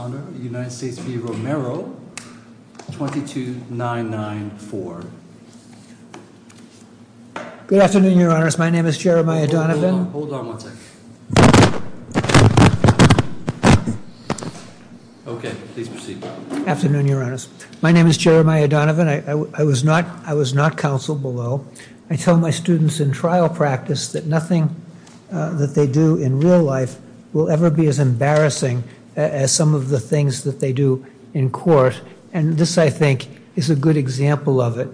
22994. Good afternoon, your honors. My name is Jeremiah Donovan. Hold on one second. Okay, please proceed. Afternoon, your honors. My name is Jeremiah Donovan. I was not counseled below. I tell my students in trial practice that nothing that they do in real life will ever be as embarrassing as some of the things that they do in court. And this, I think, is a good example of it.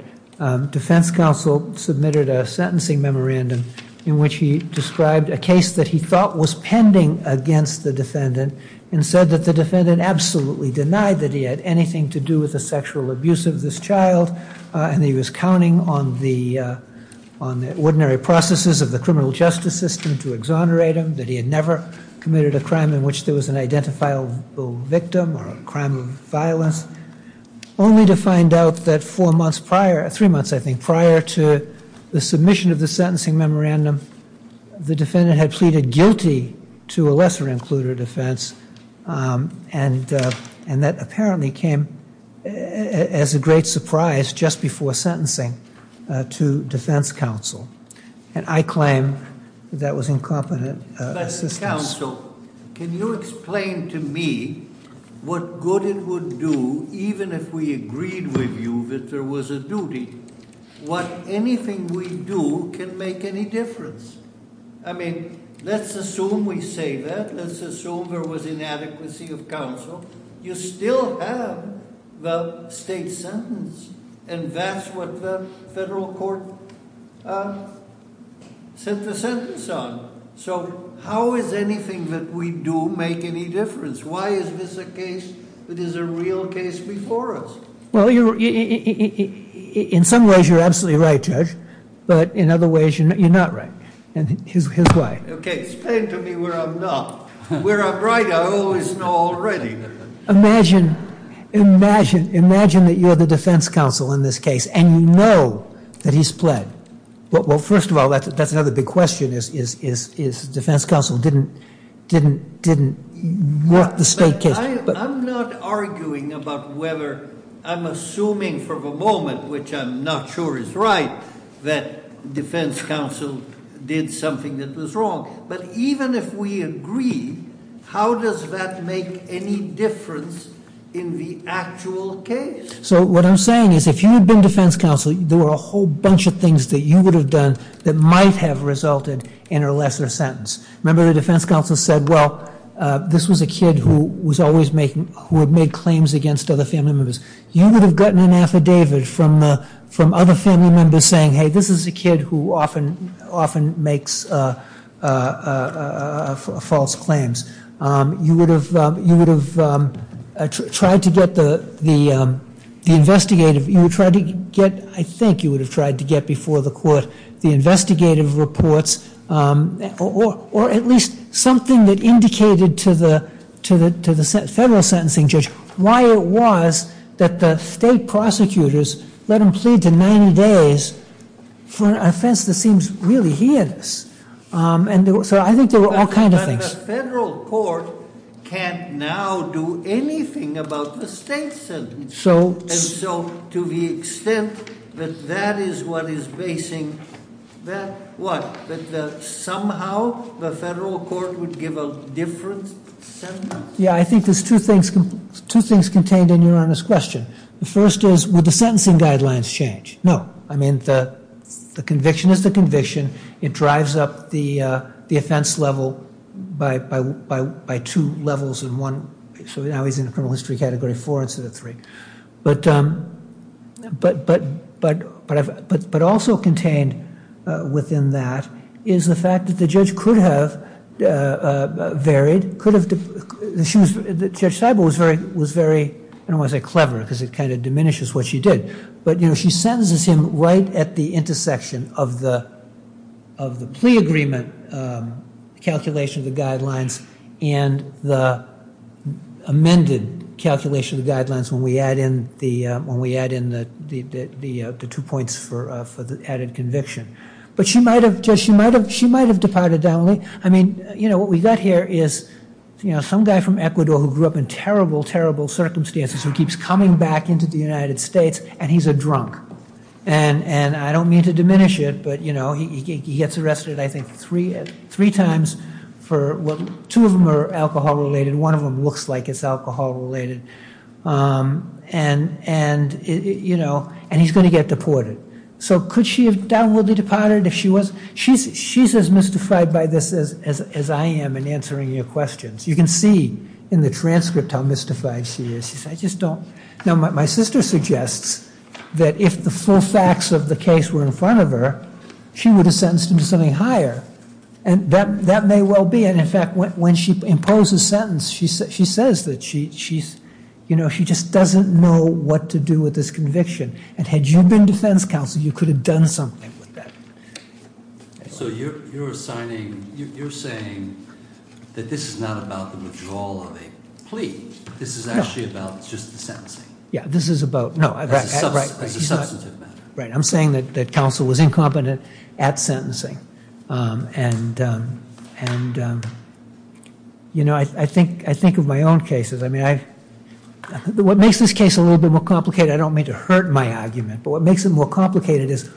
Defense counsel submitted a sentencing memorandum in which he described a case that he thought was pending against the defendant and said that the defendant absolutely denied that he had anything to do with the sexual abuse of this child and that he was counting on the ordinary processes of the criminal justice system to exonerate him, that he had never committed a crime in which there was an identifiable victim or a crime of violence, only to find out that four months prior, three months I think, prior to the submission of the sentencing memorandum, the defendant had pleaded guilty to a lesser included offense and that apparently came as a great surprise just before sentencing to defense counsel. And I claim that was incompetent assistance. But counsel, can you explain to me what good it would do even if we agreed with you that there was a duty? What anything we do can make any difference. I mean, let's assume we say that. Let's assume there was a federal court sent the sentence on. So how is anything that we do make any difference? Why is this a case that is a real case before us? Well, in some ways you're absolutely right, Judge, but in other ways you're not right. And here's why. Okay, explain to me where I'm not. Where I'm right, I always know already. Imagine, imagine, imagine that you're the defense counsel in this case and you know that he's pled. Well, first of all, that's another big question is defense counsel didn't work the state case. I'm not arguing about whether, I'm assuming for the moment, which I'm not sure is right, that defense counsel did something that was wrong. But even if we agree, how does that make any difference in the actual case? So what I'm saying is if you had been defense counsel, there were a whole bunch of things that you would have done that might have resulted in a lesser sentence. Remember the defense counsel said, well, this was a kid who was always making, who had made claims against other family members. You would have gotten an affidavit from other family members saying, hey, this is a kid who often makes false claims. You would have tried to get the investigative, you would try to get, I think you would have tried to get before the court the investigative reports or at least something that indicated to the federal sentencing judge why it was that the state prosecutors let him plead to for an offense that seems really heinous. So I think there were all kinds of things. But the federal court can't now do anything about the state sentencing. And so to the extent that that is what is basing that, what? That somehow the federal court would give a different sentence? Yeah, I think there's two things contained in your honest question. The first is, would the sentencing guidelines change? No. I mean, the conviction is the conviction. It drives up the offense level by two levels in one. So now he's in the criminal history category four instead of three. But also contained within that is the fact that the judge could have varied, could have, Judge Seibel was very, I don't want to say clever, because it kind of diminishes what she did. But she sentences him right at the intersection of the plea agreement calculation of the guidelines and the amended calculation of the guidelines when we add in the two points for the added conviction. But she might have departed down, I mean, you know, what we've got here is, you know, some guy from Ecuador who grew up in terrible, terrible circumstances who keeps coming back into the United States and he's a drunk. And I don't mean to diminish it, but, you know, he gets arrested, I think, three times for, two of them are alcohol related, one of them looks like it's alcohol related. And, you know, and he's going to get deported. So could she have downwardly departed if she was? She's as mystified by this as I am in answering your questions. You can see in the transcript how mystified she is. She says, I just don't, now my sister suggests that if the full facts of the case were in front of her, she would have sentenced him to something higher. And that may well be. And in fact, when she imposes a sentence, she says that she's, you know, she just doesn't know what to do with this conviction. And had you been defense counsel, you could have done something with that. So you're assigning, you're saying that this is not about the withdrawal of a plea. This is actually about just the sentencing. Yeah, this is about, no. As a substantive matter. Right. I'm saying that counsel was incompetent at sentencing. And, you know, I think of my own cases. I mean, what makes this case a little bit more complicated, I don't mean to hurt my argument, but what makes it more complicated is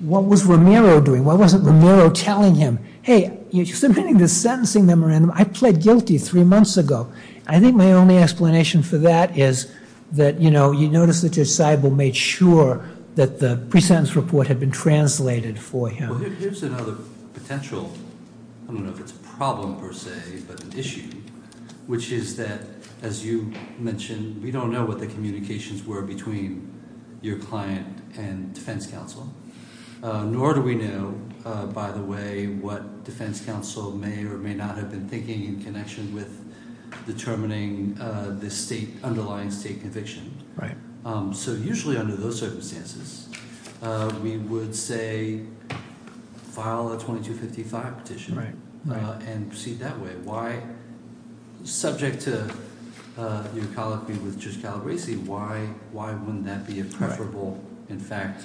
what was Romero doing? Why wasn't Romero telling him, hey, you're submitting this sentencing memorandum. I pled guilty three months ago. I think my only explanation for that is that, you know, you notice that Judge Seibel made sure that the pre-sentence report had been translated for him. Here's another potential, I don't know if it's a problem per se, but an issue, which is that, as you mentioned, we don't know what the communications were between your client and defense counsel. Nor do we know, by the way, what defense counsel may or may not have been thinking in connection with determining this state, underlying state conviction. Right. So usually under those circumstances, we would say, file a 2255 petition. Right. And proceed that way. Why, subject to your colloquy with Judge Calabresi, why wouldn't that be a preferable, in fact,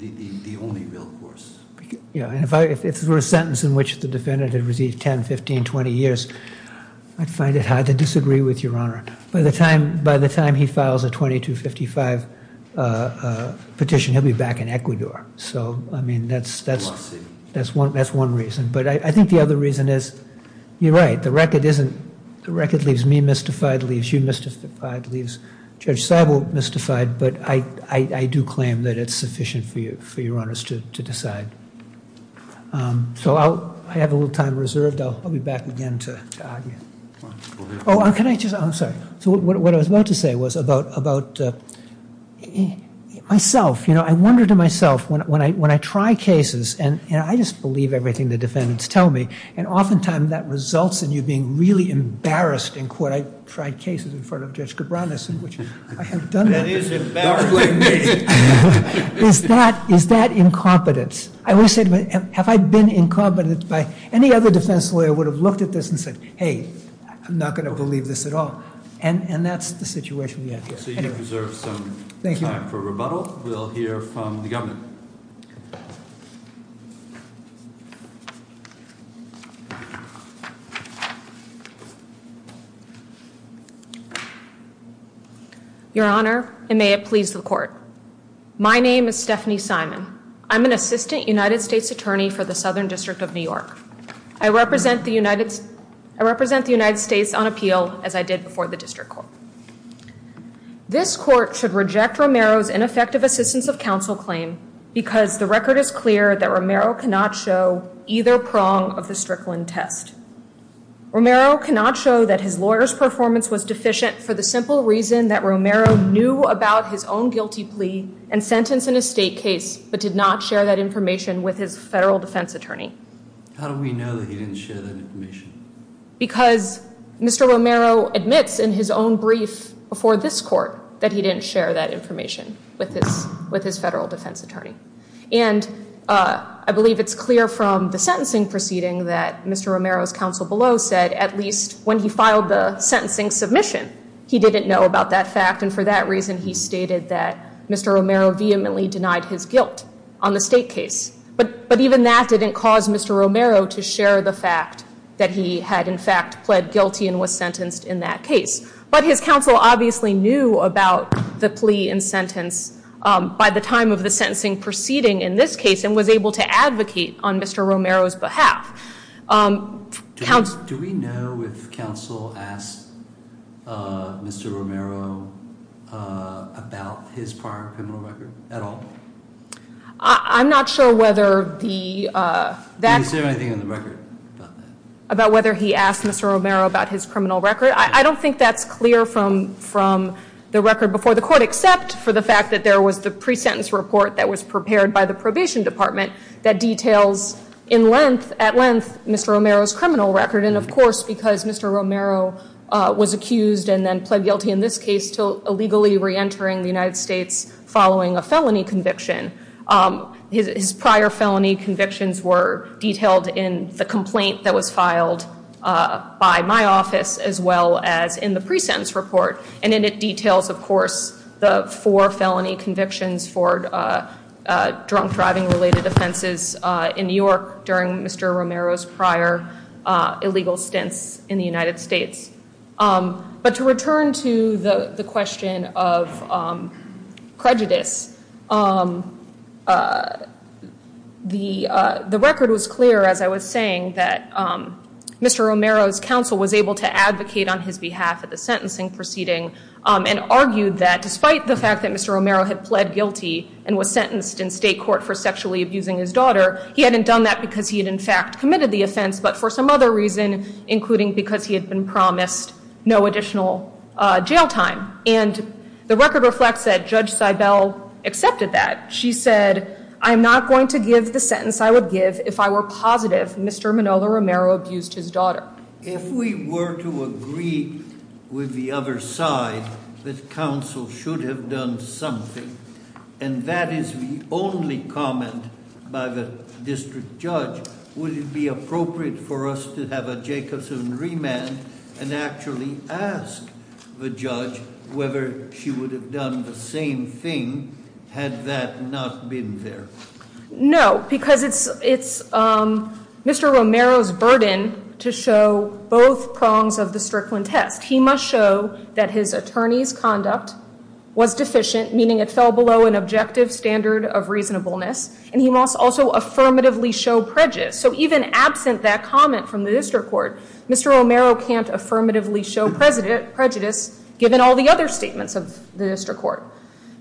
the only real course? Yeah. And if it were a sentence in which the defendant had received 10, 15, 20 years, I'd find it hard to disagree with your honor. By the time he files a 2255 petition, he'll be back in Ecuador. So, I mean, that's one reason. But I think the other reason is, you're right, the record isn't, the record leaves me mystified, leaves you mystified, leaves Judge Seibel mystified. But I do claim that it's sufficient for you, for your honors to decide. So I have a little time reserved. I'll be back again to argue. Oh, can I just, I'm sorry. So what I was about to say was about myself. You know, I wonder to myself, when I try cases, and I just believe everything the defendants tell me, and oftentimes that results in you being really embarrassed in court. I tried cases in front of Judge Cabranes, in which I have done that. That is embarrassing me. Is that incompetence? I always say, have I been incompetent? Any other defense lawyer would have looked at this and said, hey, I'm not going to believe this at all. And that's the situation we have here. So you deserve some time for rebuttal. We'll hear from the governor. Your Honor. Your Honor, and may it please the court. My name is Stephanie Simon. I'm an assistant United States attorney for the Southern District of New York. I represent the United States on appeal, as I did before the district court. This court should reject Romero's ineffective assistance of counsel claim because the record is clear that Romero cannot show either prong of the Strickland test. Romero cannot show that his lawyer's performance was deficient for the simple reason that Romero knew about his own guilty plea and sentence in a state case, but did not share that information with his federal defense attorney. How do we know that he didn't share that information? Because Mr. Romero admits in his own brief before this court that he didn't share that information with his federal defense attorney. And I believe it's clear from the sentencing proceeding that Mr. Romero's counsel below said at least when he filed the sentencing submission, he didn't know about that fact, and for that reason he stated that Mr. Romero vehemently denied his guilt on the state case. But even that didn't cause Mr. Romero to share the fact that he had in fact pled guilty and was sentenced in that case. But his counsel obviously knew about the plea and sentence by the time of the sentencing proceeding in this case and was able to advocate on Mr. Romero's behalf. Do we know if counsel asked Mr. Romero about his prior criminal record at all? I'm not sure whether the... Did he say anything in the record about that? About whether he asked Mr. Romero about his criminal record? I don't think that's clear from the record before the court except for the fact that there was the pre-sentence report that was prepared by the probation department that details at length Mr. Romero's criminal record. And of course because Mr. Romero was accused and then pled guilty in this case to illegally re-entering the United States following a felony conviction, his prior felony convictions were detailed in the complaint that was filed by my office as well as in the pre-sentence report. And then it details of course the four felony convictions for drunk driving related offenses in New York during Mr. Romero's prior illegal stints in the United States. But to return to the question of prejudice, the record was clear as I was saying that Mr. Romero's counsel was able to advocate on his behalf at the sentencing proceeding and argued that despite the fact that Mr. Romero had pled guilty and was sentenced in state court for sexually abusing his daughter, he hadn't done that because he had in fact committed the offense but for some other reason including because he had been promised no additional jail time. And the record reflects that Judge Seibel accepted that. She said, I'm not going to give the sentence I would give if I were positive Mr. Manolo Romero abused his daughter. If we were to agree with the other side that counsel should have done something and that is the only comment by the district judge, would it be appropriate for us to have a Jacobson remand and actually ask the judge whether she would have done the same thing had that not been there? No, because it's Mr. Romero's burden to show both prongs of the Strickland test. He must show that his attorney's conduct was deficient, meaning it fell below an objective standard of reasonableness. And he must also affirmatively show prejudice. So even absent that comment from the district court, Mr. Romero can't affirmatively show prejudice given all the other statements of the district court.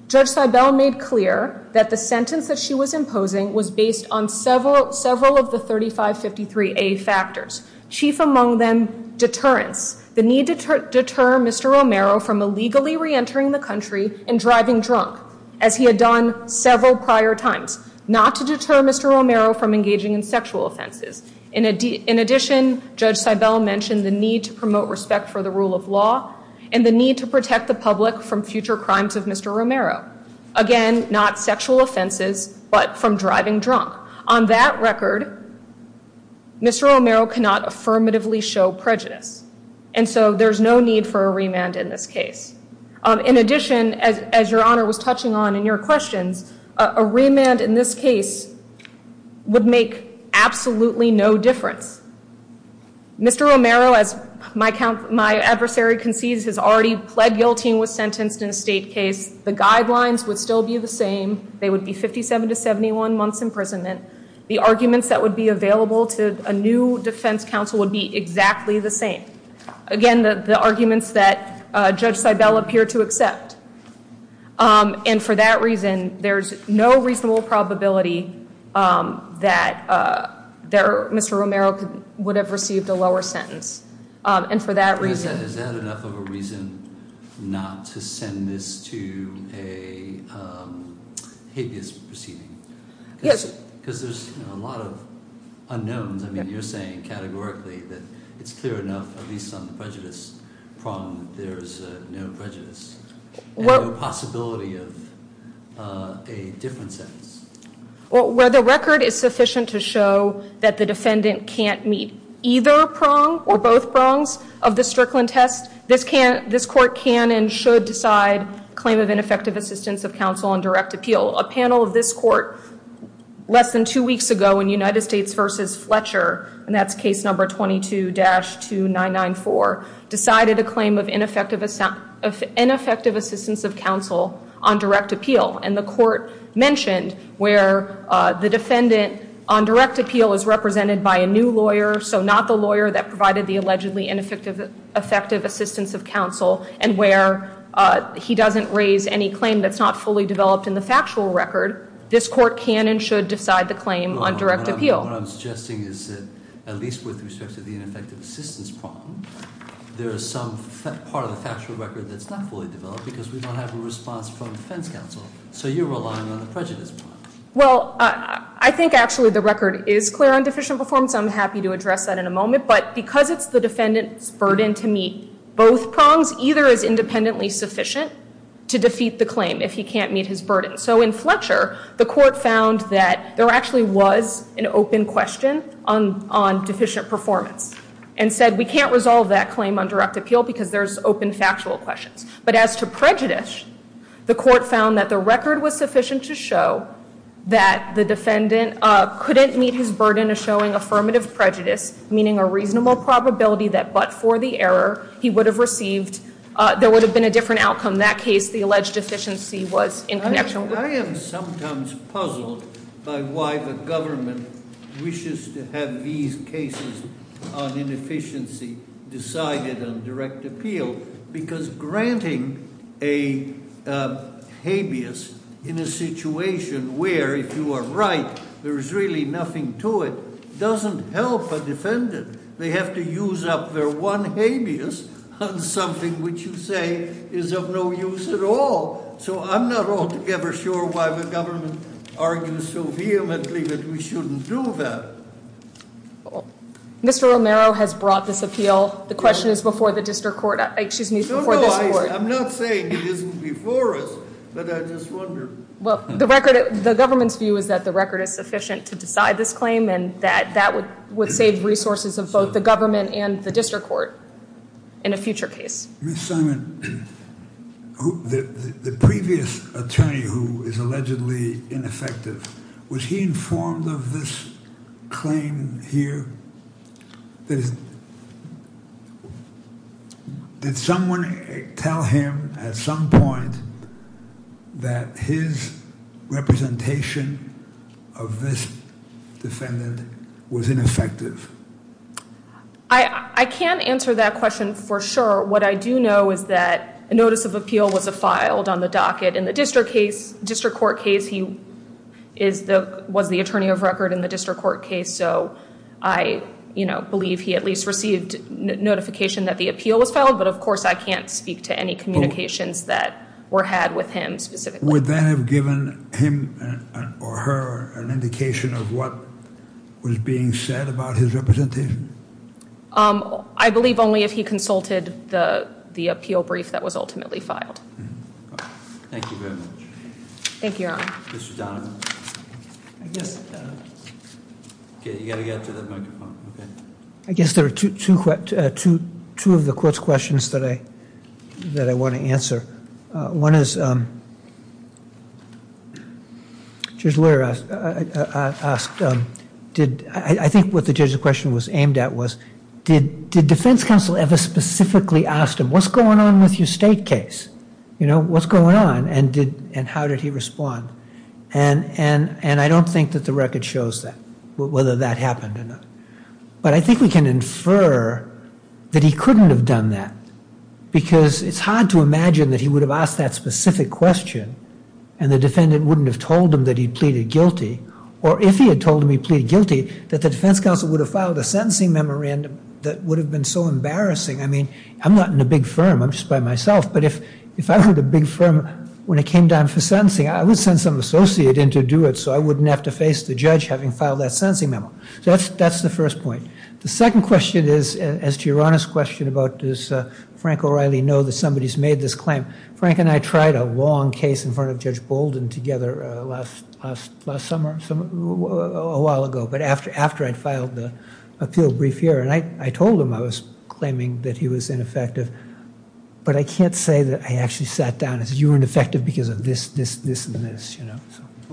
Judge Seibel made clear that the sentence that she was imposing was based on several of the 3553A factors. Chief among them, deterrence. The need to deter Mr. Romero from illegally reentering the country and driving drunk, as he had done several prior times. Not to deter Mr. Romero from engaging in sexual offenses. In addition, Judge Seibel mentioned the need to promote respect for the rule of law and the need to protect the public from future crimes of Mr. Romero. Again, not sexual offenses, but from driving drunk. On that record, Mr. Romero cannot affirmatively show prejudice. And so there's no need for a remand in this case. In addition, as Your Honor was touching on in your questions, a remand in this case would make absolutely no difference. Mr. Romero, as my adversary concedes, has already pled guilty and was sentenced in a state case. The guidelines would still be the same. They would be 57 to 71 months imprisonment. The arguments that would be available to a new defense counsel would be exactly the same. Again, the arguments that Judge Seibel appeared to accept. And for that reason, there's no reasonable probability that Mr. Romero would have received a lower sentence. And for that reason- Is that enough of a reason not to send this to a habeas proceeding? Yes. Because there's a lot of unknowns. I mean, you're saying categorically that it's clear enough, at least on the prejudice prong, that there's no prejudice and no possibility of a different sentence. Well, where the record is sufficient to show that the defendant can't meet either prong or both prongs of the Strickland test, this court can and should decide claim of ineffective assistance of counsel on direct appeal. A panel of this court less than two weeks ago in United States v. Fletcher, and that's case number 22-2994, decided a claim of ineffective assistance of counsel on direct appeal. And the court mentioned where the defendant on direct appeal is represented by a new lawyer, so not the lawyer that provided the allegedly ineffective assistance of counsel, and where he doesn't raise any claim that's not fully developed in the factual record, this court can and should decide the claim on direct appeal. What I'm suggesting is that at least with respect to the ineffective assistance prong, there is some part of the factual record that's not fully developed because we don't have a response from the defense counsel. So you're relying on the prejudice prong. Well, I think actually the record is clear on deficient performance. I'm happy to address that in a moment. But because it's the defendant's burden to meet both prongs, either is independently sufficient to defeat the claim if he can't meet his burden. So in Fletcher, the court found that there actually was an open question on deficient performance and said we can't resolve that claim on direct appeal because there's open factual questions. But as to prejudice, the court found that the record was sufficient to show that the defendant couldn't meet his burden of showing affirmative prejudice, meaning a reasonable probability that but for the error, he would have received, there would have been a different outcome. In that case, the alleged deficiency was in connection with- I am sometimes puzzled by why the government wishes to have these cases on inefficiency decided on direct appeal. Because granting a habeas in a situation where if you are right, there is really nothing to it, doesn't help a defendant. They have to use up their one habeas on something which you say is of no use at all. So I'm not altogether sure why the government argues so vehemently that we shouldn't do that. Mr. Romero has brought this appeal. The question is before the district court. I'm not saying it isn't before us, but I just wonder. Well, the government's view is that the record is sufficient to decide this claim and that that would save resources of both the government and the district court in a future case. Ms. Simon, the previous attorney who is allegedly ineffective, was he informed of this claim here? Did someone tell him at some point that his representation of this defendant was ineffective? I can't answer that question for sure. What I do know is that a notice of appeal was filed on the docket in the district court case. He was the attorney of record in the district court case, so I believe he at least received notification that the appeal was filed, but of course I can't speak to any communications that were had with him specifically. Would that have given him or her an indication of what was being said about his representation? I believe only if he consulted the appeal brief that was ultimately filed. Thank you very much. Thank you, Your Honor. Mr. Donovan. You've got to get to the microphone. I guess there are two of the court's questions that I want to answer. One is, I think what the judge's question was aimed at was, did defense counsel ever specifically ask him, what's going on with your state case? What's going on, and how did he respond? I don't think that the record shows that, whether that happened or not, but I think we can infer that he couldn't have done that because it's hard to imagine that he would have asked that specific question and the defendant wouldn't have told him that he pleaded guilty, or if he had told him he pleaded guilty, that the defense counsel would have filed a sentencing memorandum that would have been so embarrassing. I mean, I'm not in a big firm. I'm just by myself, but if I were the big firm when it came down for sentencing, I would send some associate in to do it so I wouldn't have to face the judge having filed that sentencing memo. So that's the first point. The second question is, as to Your Honor's question about does Frank O'Reilly know that somebody's made this claim, Frank and I tried a long case in front of Judge Bolden together last summer, a while ago, but after I'd filed the appeal brief here, and I told him I was claiming that he was ineffective, but I can't say that I actually sat down and said you were ineffective because of this, this, this, and this.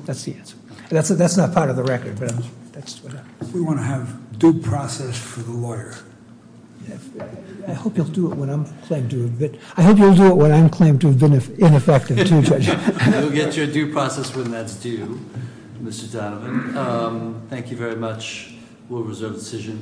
That's the answer. That's not part of the record, but that's what happens. We want to have due process for the lawyer. I hope you'll do it when I'm claimed to have been ineffective too, Judge. You'll get your due process when that's due, Mr. Donovan. Thank you very much. We'll reserve the decision.